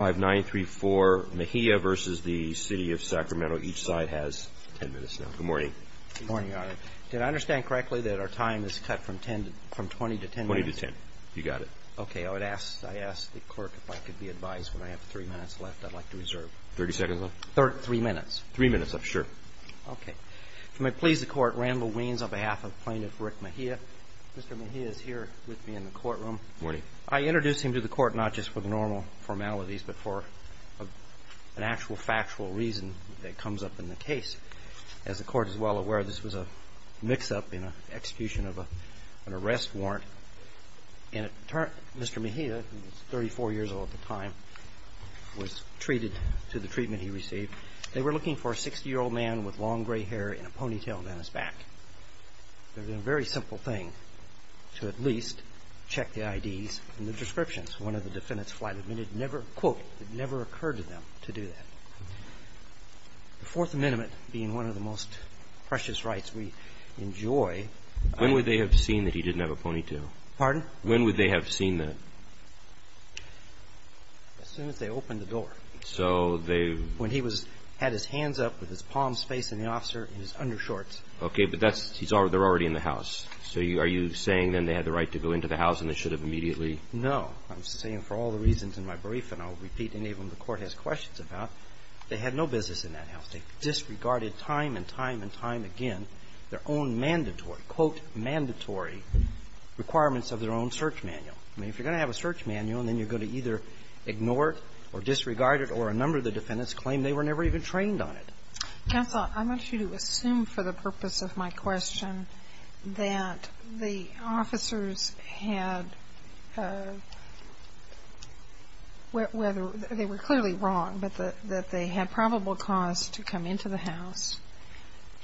Each side has 10 minutes now. Good morning. Good morning, Your Honor. Did I understand correctly that our time is cut from 20 to 10 minutes? 20 to 10. You got it. Okay, I would ask the clerk if I could be advised when I have three minutes left I'd like to reserve. 30 seconds left? Three minutes. Three minutes, I'm sure. Okay. If you may please the court, Randall Weans on behalf of plaintiff Rick Mejia. Mr. Mejia is here with me in the courtroom. Morning. I introduce him to the court not just for the normal formalities but for an actual factual reason that comes up in the case. As the court is well aware this was a mix-up in an execution of an arrest warrant. Mr. Mejia, 34 years old at the time, was treated to the treatment he received. They were looking for a 60-year-old man with long gray hair and a ponytail down his back. They did a very simple thing to at least check the IDs and the descriptions. One of the defendants, Flight Admitted, never, quote, it never occurred to them to do that. The Fourth Amendment being one of the most precious rights we enjoy. When would they have seen that he didn't have a ponytail? Pardon? When would they have seen that? As soon as they opened the door. So they. When he had his hands up with his palms facing the officer in his undershorts. Okay, but that's, they're already in the house. So are you saying then they had the right to go into the house and they should have immediately. No. I'm saying for all the reasons in my brief, and I'll repeat any of them the court has questions about, they had no business in that house. They disregarded time and time and time again their own mandatory, quote, mandatory requirements of their own search manual. I mean, if you're going to have a search manual, then you're going to either ignore it or disregard it or a number of the defendants claim they were never even trained on it. Counsel, I want you to assume for the purpose of my question that the officers had, whether they were clearly wrong, but that they had probable cause to come into the house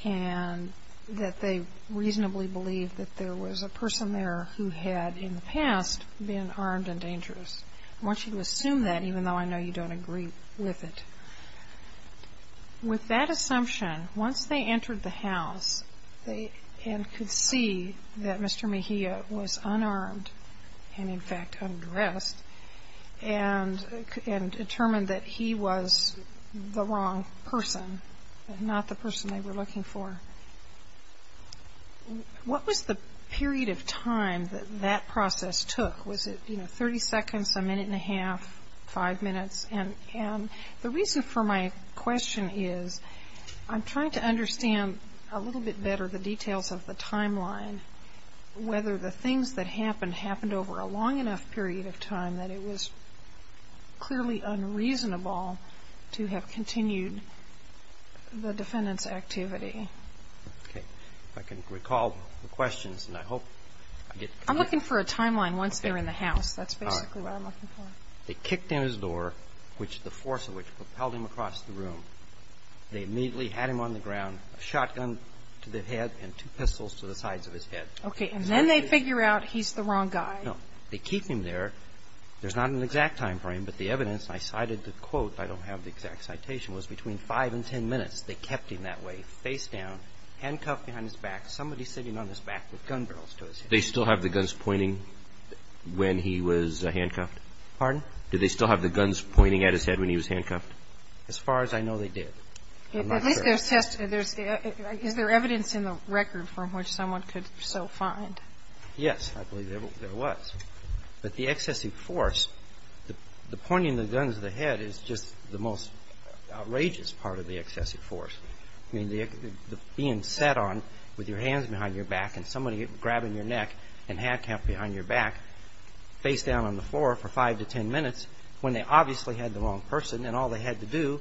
and that they reasonably believed that there was a person there who had in the past been armed and dangerous. I want you to assume that even though I know you don't agree with it. With that assumption, once they entered the house and could see that Mr. Mejia was unarmed and in fact undressed and determined that he was the wrong person and not the person they were looking for, what was the period of time that process took? Was it 30 seconds, a minute and a half, five minutes? And the reason for my question is I'm trying to understand a little bit better the details of the timeline, whether the things that happened, happened over a long enough period of time that it was clearly unreasonable to have continued the defendant's activity. Okay. If I can recall the questions and I hope I get... I'm looking for a timeline once they're in the house. That's basically what I'm looking for. They kicked in his door, which the force of which propelled him across the room. They immediately had him on the ground, a shotgun to the head and two pistols to the sides of his head. Okay. And then they figure out he's the wrong guy. No. They keep him there. There's not an exact time frame, but the evidence, and I cited the quote, I don't have the exact citation, was between five and ten minutes they kept him that way, face down, handcuffed behind his back, somebody sitting on his back with gun barrels to his head. Do they still have the guns pointing when he was handcuffed? Pardon? Do they still have the guns pointing at his head when he was handcuffed? As far as I know, they did. I'm not sure. At least there's test... Is there evidence in the record from which someone could so find? Yes, I believe there was. But the excessive force, the pointing the guns to the head is just the most outrageous part of the excessive force. I mean, being sat on with your hands behind your back and somebody grabbing your neck and handcuffed behind your back, face down on the floor for five to ten minutes when they obviously had the wrong person and all they had to do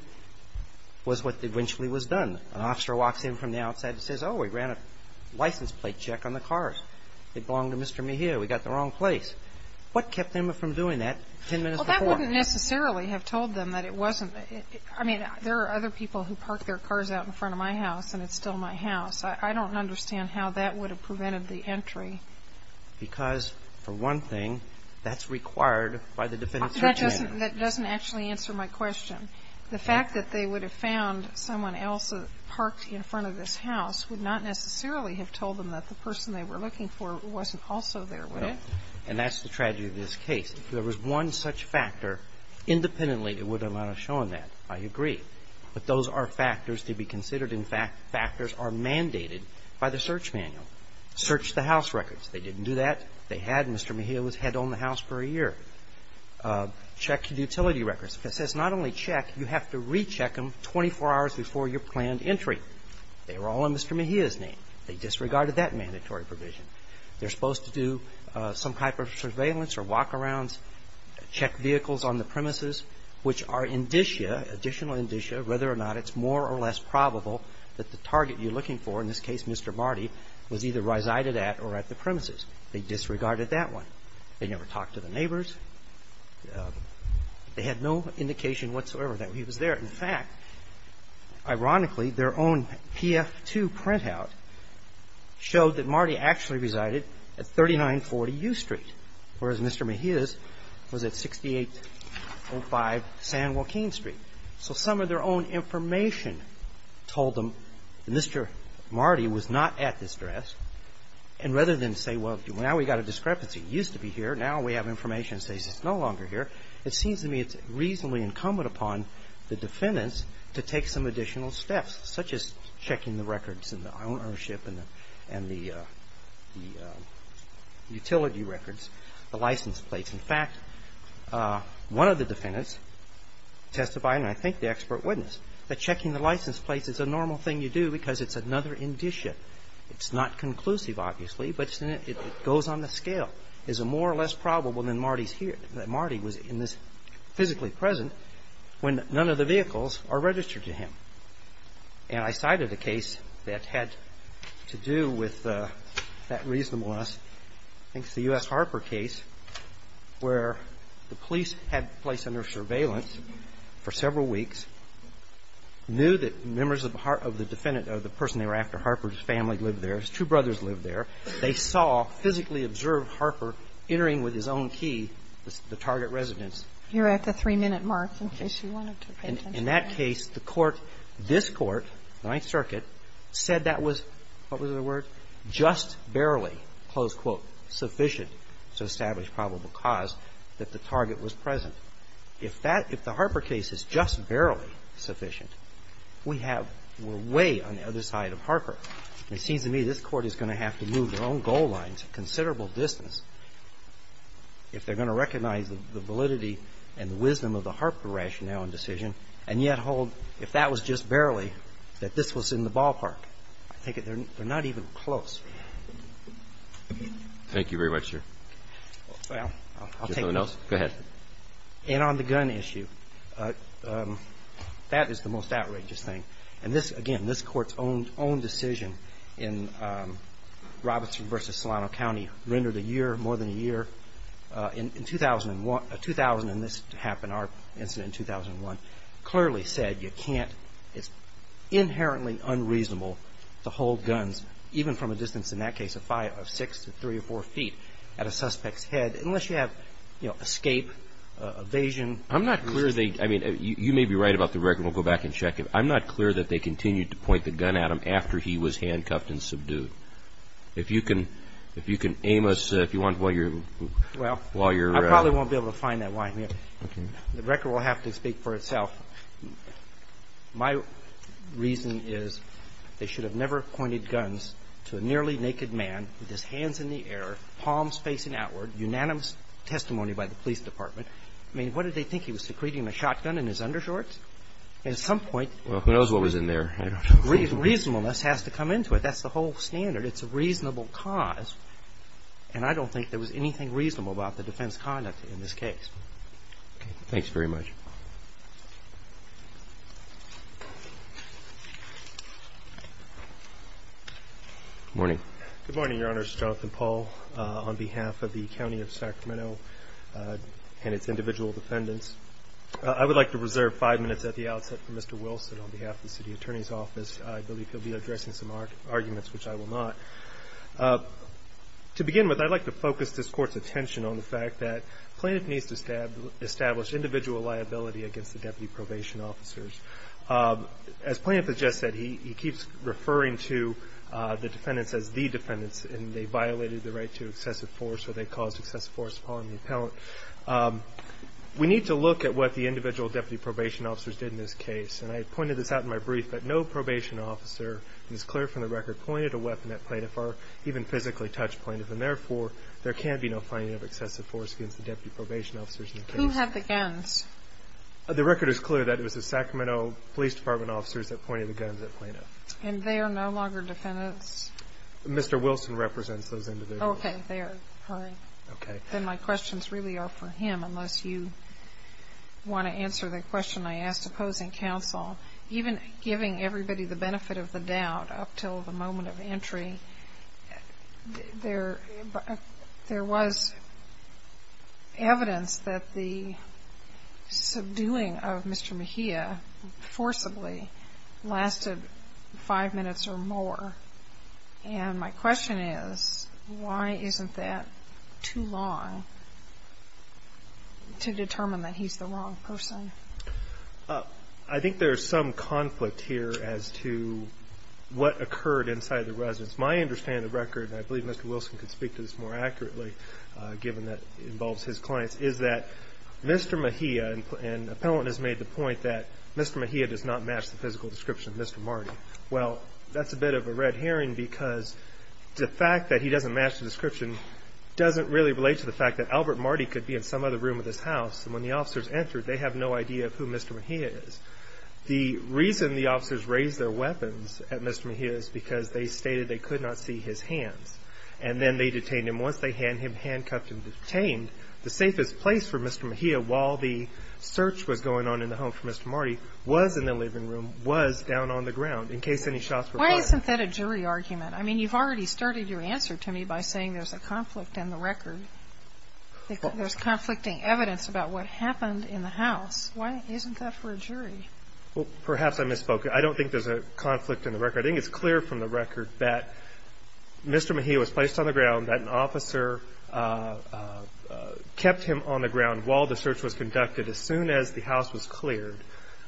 was what eventually was done. An officer walks in from the outside and says, oh, we ran a license plate check on the cars. It belonged to Mr. Mejia. We got the wrong place. What kept them from doing that ten minutes before? Well, that wouldn't necessarily have told them that it wasn't. I mean, there are other people who park their cars out in front of my house and it's still my house. I don't understand how that would have prevented the entry. Because, for one thing, that's required by the defendant's search warrant. That doesn't actually answer my question. The fact that they would have found someone else parked in front of this house would not necessarily have told them that the person they were looking for wasn't also there, would it? And that's the tragedy of this case. If there was one such factor, independently, it would have not shown that. I agree. But those are factors to be considered and factors are mandated by the search manual. Search the house records. They didn't do that. They had Mr. Mejia was head on the house for a year. Check the utility records. If it says not only check, you have to recheck them 24 hours before your planned entry. They were all in Mr. Mejia's name. They disregarded that mandatory provision. They're supposed to do some type of surveillance or walk-arounds, check vehicles on the premises, which are indicia, additional indicia, whether or not it's more or less probable that the target you're looking for, in this case Mr. Marty, was either resided at or at the premises. They disregarded that one. They never talked to the neighbors. They had no indication whatsoever that he was there. In fact, ironically, their own PF2 printout showed that Marty actually resided at 3940 U Street, whereas Mr. Mejia's was at 6805 San Joaquin Street. So some of their own information told them that Mr. Marty was not at this address. And rather than say, well, now we've got a discrepancy. He used to be here. Now we have information that says he's no longer here. It seems to me it's reasonably incumbent upon the defendants to take some additional steps, such as checking the records and the ownership and the utility records, the license plates. In fact, one of the defendants testified, and I think the expert witness, that checking the license plates is a normal thing you do because it's another indicia. It's not conclusive, obviously, but it goes on the scale. Is it more or less probable that Marty was physically present when none of the vehicles are registered to him? And I cited a case that had to do with that reasonableness. I think it's the U.S. Harper case where the police had placed under surveillance for several weeks, knew that members of the defendant or the person they were after, Harper's family lived there. His two brothers lived there. They saw, physically observed Harper entering with his own key the target residence. You're at the 3-minute mark in case you wanted to pay attention. In that case, the Court, this Court, Ninth Circuit, said that was, what was the word, just barely, close quote, sufficient to establish probable cause that the target was present. If that – if the Harper case is just barely sufficient, we have – we're way on the other side of Harper. And it seems to me this Court is going to have to move their own goal lines a considerable distance if they're going to recognize the validity and the wisdom of the Harper rationale and decision, and yet hold, if that was just barely, that this was in the ballpark. I think they're not even close. Thank you very much, sir. Well, I'll take it. Is there anyone else? Go ahead. And on the gun issue, that is the most outrageous thing. And this – again, this decision in Robinson v. Solano County rendered a year, more than a year, in 2001 – 2000, and this happened, our incident in 2001, clearly said you can't – it's inherently unreasonable to hold guns, even from a distance, in that case, of six to three or four feet at a suspect's head, unless you have, you know, escape, evasion. I'm not clear they – I mean, you may be right about the record. We'll go back and he was handcuffed and subdued. If you can – if you can aim us, if you want, while you're – while you're – Well, I probably won't be able to find that line. The record will have to speak for itself. My reason is they should have never pointed guns to a nearly naked man with his hands in the air, palms facing outward, unanimous testimony by the police department. I mean, what did they think? He was secreting a shotgun in his undershorts? At some point – Well, who knows what was in there? I don't know. I mean, reasonableness has to come into it. That's the whole standard. It's a reasonable cause. And I don't think there was anything reasonable about the defense conduct in this case. Okay. Thanks very much. Morning. Good morning, Your Honors. Jonathan Paul on behalf of the County of Sacramento and its individual defendants. I would like to reserve five minutes at the outset for Mr. Wilson on behalf of the City Attorney's Office. I believe he'll be addressing some arguments, which I will not. To begin with, I'd like to focus this Court's attention on the fact that plaintiff needs to establish individual liability against the deputy probation officers. As plaintiff has just said, he keeps referring to the defendants as the defendants, and they violated the right to excessive force or they caused excessive force upon the appellant. We need to look at what the individual deputy probation officers did in this case. And I pointed this out in my brief that no probation officer, it is clear from the record, pointed a weapon at plaintiff or even physically touched plaintiff. And therefore, there can be no finding of excessive force against the deputy probation officers in the case. Who had the guns? The record is clear that it was the Sacramento Police Department officers that pointed the guns at plaintiff. And they are no longer defendants? Mr. Wilson represents those individuals. Okay. There. All right. Okay. Then my questions really are for him, unless you want to answer the question I asked opposing counsel. Even giving everybody the benefit of the doubt up until the moment of entry, there was evidence that the subduing of Mr. Mejia forcibly lasted five minutes or more. And my question is, why isn't that too long to determine that he's the wrong person? I think there's some conflict here as to what occurred inside the residence. My understanding of the record, and I believe Mr. Wilson could speak to this more accurately, given that it involves his clients, is that Mr. Mejia, and the appellant has made the point that Mr. Mejia does not match the physical description of Mr. Marty. Well, that's a bit of a red herring because the fact that he doesn't match the description doesn't really relate to the fact that Albert Marty could be in some other room of this house. And when the officers entered, they have no idea of who Mr. Mejia is. The reason the officers raised their weapons at Mr. Mejia is because they stated they could not see his hands. And then they detained him. Once they had him handcuffed and detained, the safest place for Mr. Mejia while the search was going on in the home for Mr. Marty was in the living room, was down on the ground in case any shots were fired. Why isn't that a jury argument? I mean, you've already started your answer to me by saying there's a conflict in the record. There's conflicting evidence about what happened in the house. Why isn't that for a jury? Well, perhaps I misspoke. I don't think there's a conflict in the record. I think it's clear from the record that Mr. Mejia was placed on the ground, that an officer kept him on the ground while the search was conducted. As soon as the house was cleared,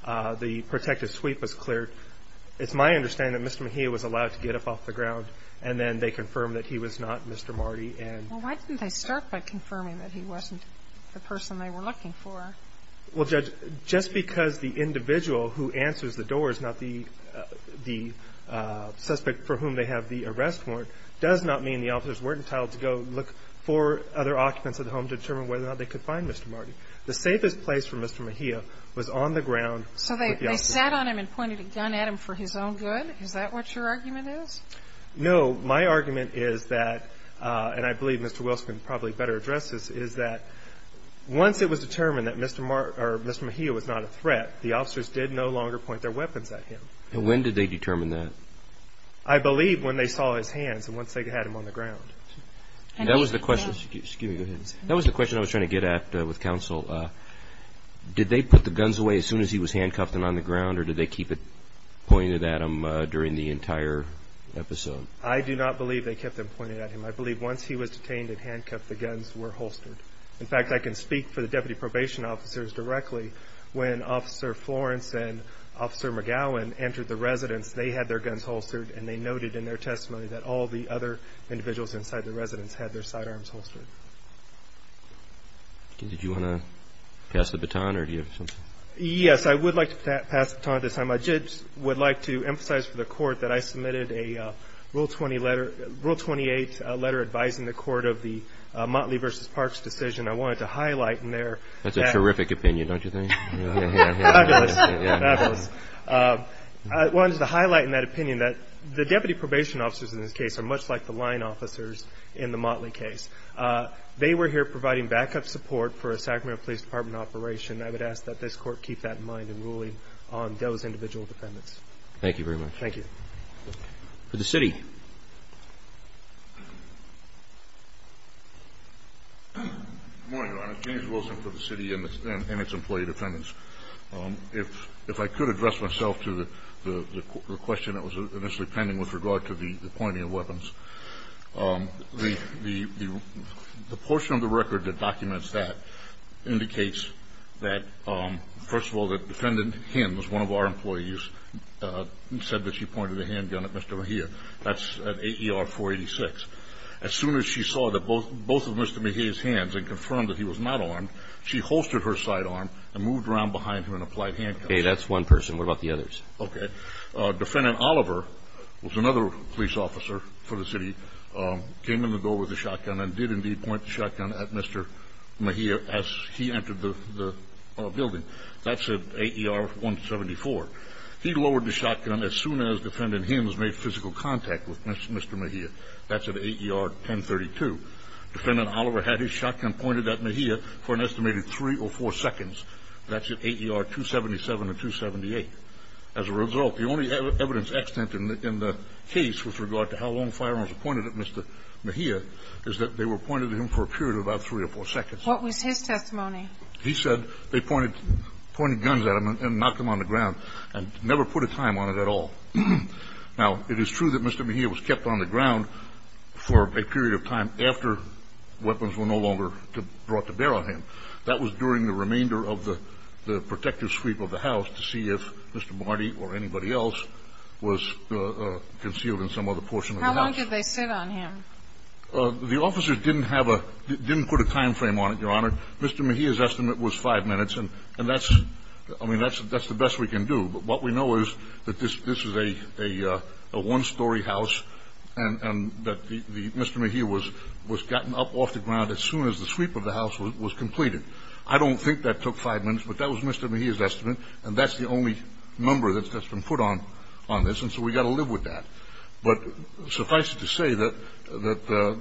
the protective sweep was cleared. It's my understanding that Mr. Mejia was allowed to get up off the ground and then they confirmed that he was not Mr. Marty. Well, why didn't they start by confirming that he wasn't the person they were looking for? Well, Judge, just because the individual who answers the doors, not the suspect for whom they have the arrest warrant, does not mean the officers weren't entitled to go look for other occupants of the home to determine whether or not they could find Mr. Marty. The safest place for Mr. Mejia was on the ground. So they sat on him and pointed a gun at him for his own good? Is that what your argument is? No. My argument is that, and I believe Mr. Wilson can probably better address this, is that once it was determined that Mr. Mejia was not a threat, the officers did no longer point their weapons at him. When did they determine that? I believe when they saw his hands and once they had him on the ground. That was the question I was trying to get at with counsel. Did they put the guns away as soon as he was handcuffed and on the ground, or did they keep it pointed at him during the entire episode? I do not believe they kept them pointed at him. I believe once he was detained and handcuffed, the guns were holstered. In fact, I can speak for the deputy probation officers directly. When Officer Florence and Officer McGowan entered the residence, they had their guns holstered and they noted in their testimony that all the other individuals inside the residence had their sidearms holstered. Did you want to pass the baton, or do you have something? Yes, I would like to pass the baton at this time. I would like to emphasize for the court that I submitted a Rule 28 letter advising the court of the Motley v. Parks decision. I wanted to highlight in there that the deputy probation officers in this case are much like the line officers in the Motley case. They were here providing backup support for a Sacramento Police Department operation. I would ask that this court keep that in mind in ruling on those individual defendants. Thank you very much. Thank you. For the city. Good morning, Your Honor. James Wilson for the city and its employee defendants. If I could address myself to the question that was initially pending with regard to the pointing of weapons, the portion of the record that documents that indicates that, first of all, that Defendant Hinn, who is one of our employees, said that she pointed a handgun at Mr. Mejia. That's at AER 486. As soon as she saw both of Mr. Mejia's hands and confirmed that he was not armed, she holstered her sidearm and moved around behind him in applied handcuffs. Okay, that's one person. What about the others? Okay. Defendant Oliver was another police officer for the city, came in the door with a shotgun and did indeed point the shotgun at Mr. Mejia as he entered the building. That's at AER 174. He lowered the shotgun as soon as Defendant Hinn made physical contact with Mr. Mejia. That's at AER 1032. Defendant Oliver had his shotgun pointed at Mejia for an estimated three or four seconds. That's at AER 277 and 278. As a result, the only evidence extant in the case with regard to how long firearms were pointed at Mr. Mejia is that they were pointed at him for a period of about three or four seconds. What was his testimony? He said they pointed guns at him and knocked him on the ground and never put a time on it at all. Now, it is true that Mr. Mejia was kept on the ground for a period of time after weapons were no longer brought to bear on him. That was during the remainder of the protective sweep of the house to see if Mr. Marty or anybody else was concealed in some other portion of the house. How long did they sit on him? The officers didn't put a time frame on it, Your Honor. Mr. Mejia's estimate was five minutes, and that's the best we can do. But what we know is that this is a one-story house and that Mr. Mejia was gotten up off the ground as soon as the sweep of the house was completed. I don't think that took five minutes, but that was Mr. Mejia's estimate, and that's the only number that's been put on this, and so we've got to live with that. But suffice it to say that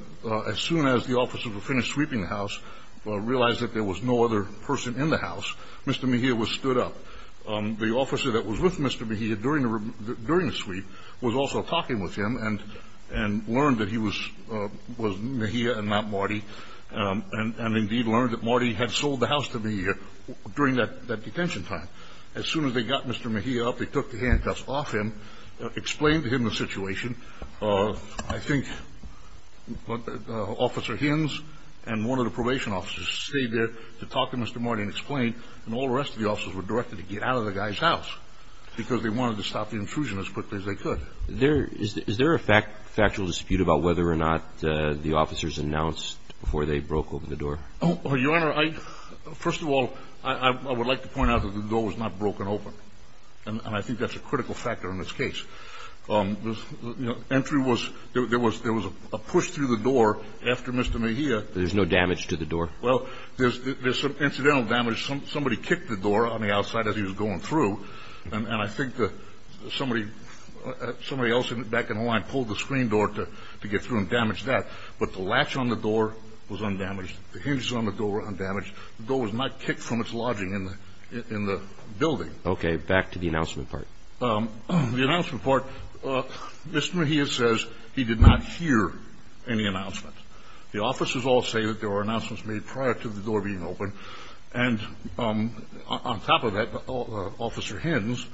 as soon as the officers were finished sweeping the house, realized that there was no other person in the house, Mr. Mejia was stood up. The officer that was with Mr. Mejia during the sweep was also talking with him and learned that he was Mejia and not Marty, and indeed learned that Marty had sold the house to Mejia during that detention time. As soon as they got Mr. Mejia up, they took the handcuffs off him, explained to him the situation. I think Officer Hinz and one of the probation officers stayed there to talk to Mr. Marty and explain, and all the rest of the officers were directed to get out of the guy's house because they wanted to stop the intrusion as quickly as they could. Is there a factual dispute about whether or not the officers announced before they broke open the door? Your Honor, first of all, I would like to point out that the door was not broken open, and I think that's a critical factor in this case. Entry was, there was a push through the door after Mr. Mejia. There's no damage to the door? Well, there's some incidental damage. Somebody kicked the door on the outside as he was going through, and I think that somebody else back in the line pulled the screen door to get through and damage that. But the latch on the door was undamaged. The hinges on the door were undamaged. The door was not kicked from its lodging in the building. Okay. Back to the announcement part. The announcement part, Mr. Mejia says he did not hear any announcements. The officers all say that there were announcements made prior to the door being opened, and on top of that, Officer Hens,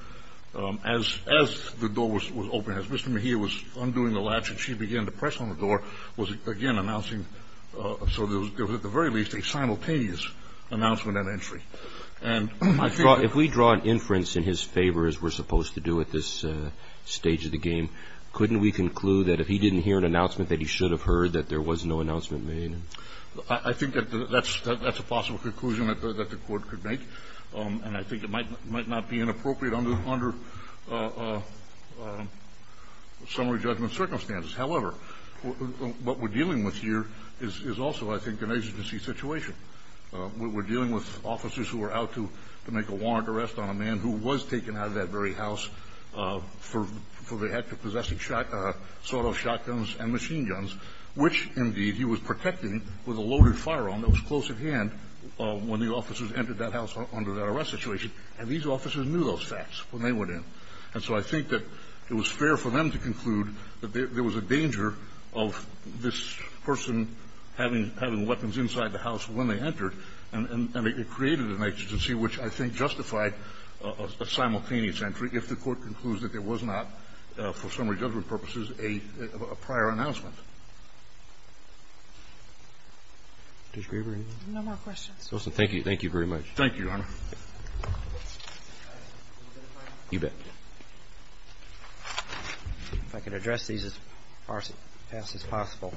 as the door was opened, as Mr. Mejia was undoing the latch and she began to press on the door, was again announcing. So there was, at the very least, a simultaneous announcement and entry. And I think that If we draw an inference in his favor, as we're supposed to do at this stage of the game, couldn't we conclude that if he didn't hear an announcement that he should have heard that there was no announcement made? I think that's a possible conclusion that the Court could make. And I think it might not be inappropriate under summary judgment circumstances. However, what we're dealing with here is also, I think, an exigency situation. We're dealing with officers who are out to make a warrant arrest on a man who was taken out of that very house for the act of possessing shot – sawed-off shotguns and machine guns, which, indeed, he was protecting with a loaded firearm that was close at hand when the officers entered that house under that arrest situation. And these officers knew those facts when they went in. And so I think that it was fair for them to conclude that there was a danger of this person having weapons inside the house when they entered, and it created an exigency which I think justified a simultaneous entry if the Court concludes that there was not, for summary judgment purposes, a prior announcement. Judge Grieber, anything? No more questions. Justice, thank you. Thank you very much. Thank you, Your Honor. You bet. If I could address these as fast as possible.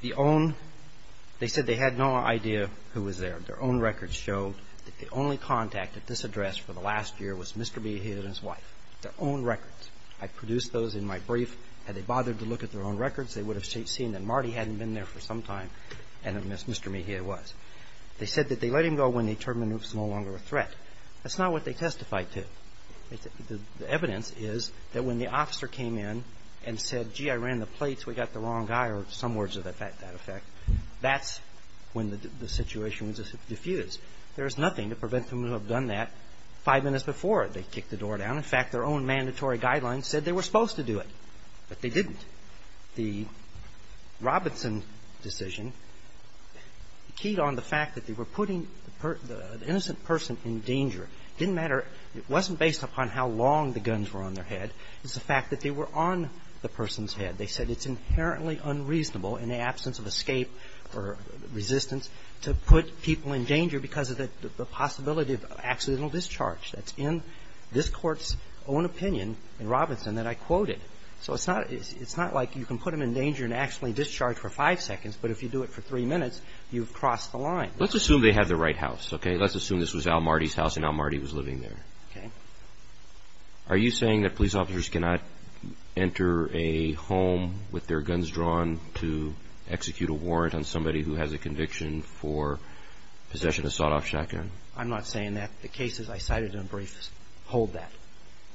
The own – they said they had no idea who was there. Their own records show that the only contact at this address for the last year was Mr. Mejia and his wife. Their own records. I produced those in my brief. Had they bothered to look at their own records, they would have seen that Marty hadn't been there for some time and that Mr. Mejia was. They said that they let him go when they determined it was no longer a threat. That's not what they testified to. The evidence is that when the officer came in and said, gee, I ran the plates, we got the The Robertson decision keyed on the fact that they were putting the innocent person in danger. It didn't matter – it wasn't based upon how long the guns were on their head. It was the fact that they were on the person's head. They said it's inherently unreasonable in the absence of escape or resistance to put people in danger because of the possibility of accidental discharge. That's in this court's own opinion in Robertson that I quoted. So it's not like you can put them in danger and actually discharge for five seconds, but if you do it for three minutes, you've crossed the line. Let's assume they had the right house. Let's assume this was Al Marty's house and Al Marty was living there. Are you saying that police officers cannot enter a home with their guns drawn to execute a warrant on somebody who has a conviction for possession of a sawed-off shotgun? I'm not saying that. The cases I cited in briefs hold that,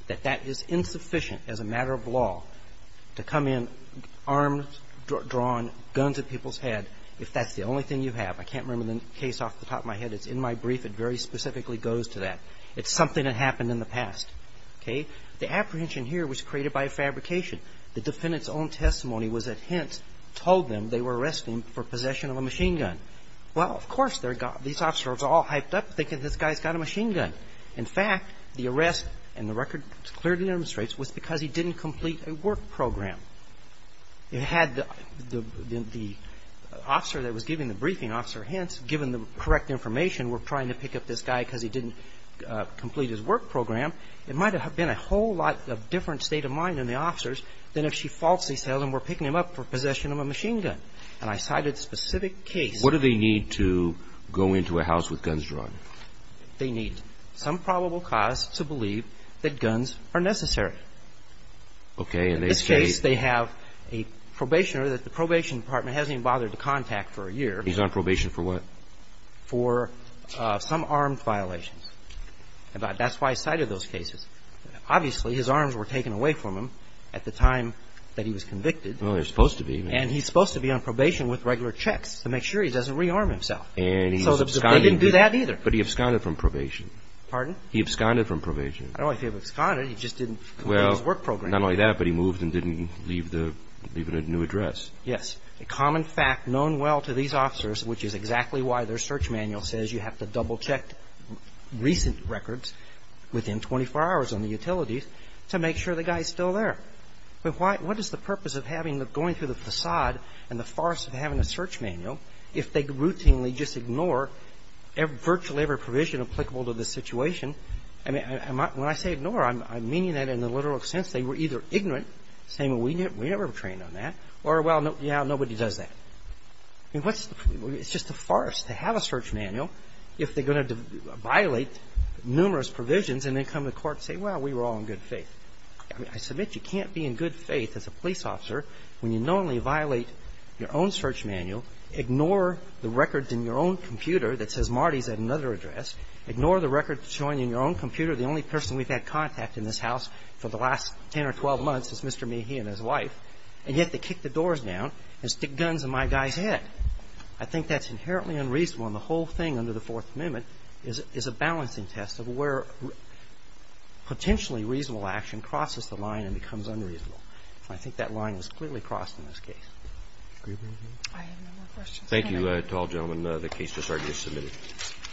that that is insufficient as a matter of law to come in armed, drawn, guns at people's head if that's the only thing you have. I can't remember the case off the top of my head. It's in my brief. It very specifically goes to that. It's something that happened in the past. Okay? The apprehension here was created by a fabrication. The defendant's own testimony was that Hintz told them they were arresting him for possession of a machine gun. Well, of course they're got, these officers are all hyped up thinking this guy's got a machine gun. In fact, the arrest, and the record clearly demonstrates, was because he didn't complete a work program. It had the, the, the officer that was giving the briefing, Officer Hintz, given the correct information, were trying to pick up this guy because he didn't complete his work program, it might have been a whole lot of different state of mind in the officers than if she falsely said, oh, then we're picking him up for possession of a machine gun. And I cited specific cases. What do they need to go into a house with guns drawn? They need some probable cause to believe that guns are necessary. Okay. And they say they have a probationer that the probation department hasn't even bothered to contact for a year. He's on probation for what? For some armed violations. That's why I cited those cases. Obviously, his arms were taken away from him at the time that he was convicted. Well, they're supposed to be. And he's supposed to be on probation with regular checks to make sure he doesn't rearm himself. And he absconded. They didn't do that either. But he absconded from probation. Pardon? He absconded from probation. I don't know if he absconded, he just didn't complete his work program. Well, not only that, but he moved and didn't leave the, leave a new address. Yes. A common fact known well to these officers, which is exactly why their search manual says you have to double-check recent records within 24 hours on the utilities to make sure the guy is still there. But why, what is the purpose of having, going through the facade and the farce of having a search manual if they routinely just ignore virtually every provision applicable to the situation? I mean, when I say ignore, I'm meaning that in the literal sense they were either ignorant, saying, well, we never trained on that, or, well, yeah, nobody does that. I mean, what's the, it's just a farce to have a search manual if they're going to violate numerous provisions and then come to court and say, well, we were all in good faith. I mean, I submit you can't be in good faith as a police officer when you not only violate your own search manual, ignore the records in your own computer that says Marty's at another address, ignore the records showing in your own computer the only person we've had contact in this house for the last 10 or 12 months is Mr. Mehe and his wife, and yet they kick the doors down and stick guns in my guy's head. I think that's inherently unreasonable, and the whole thing under the Fourth Amendment is a balancing test of where potentially reasonable action crosses the line and becomes unreasonable. So I think that line was clearly crossed in this case. Mr. Greenberg, do you have any more questions? Thank you to all gentlemen. The cases are just submitted.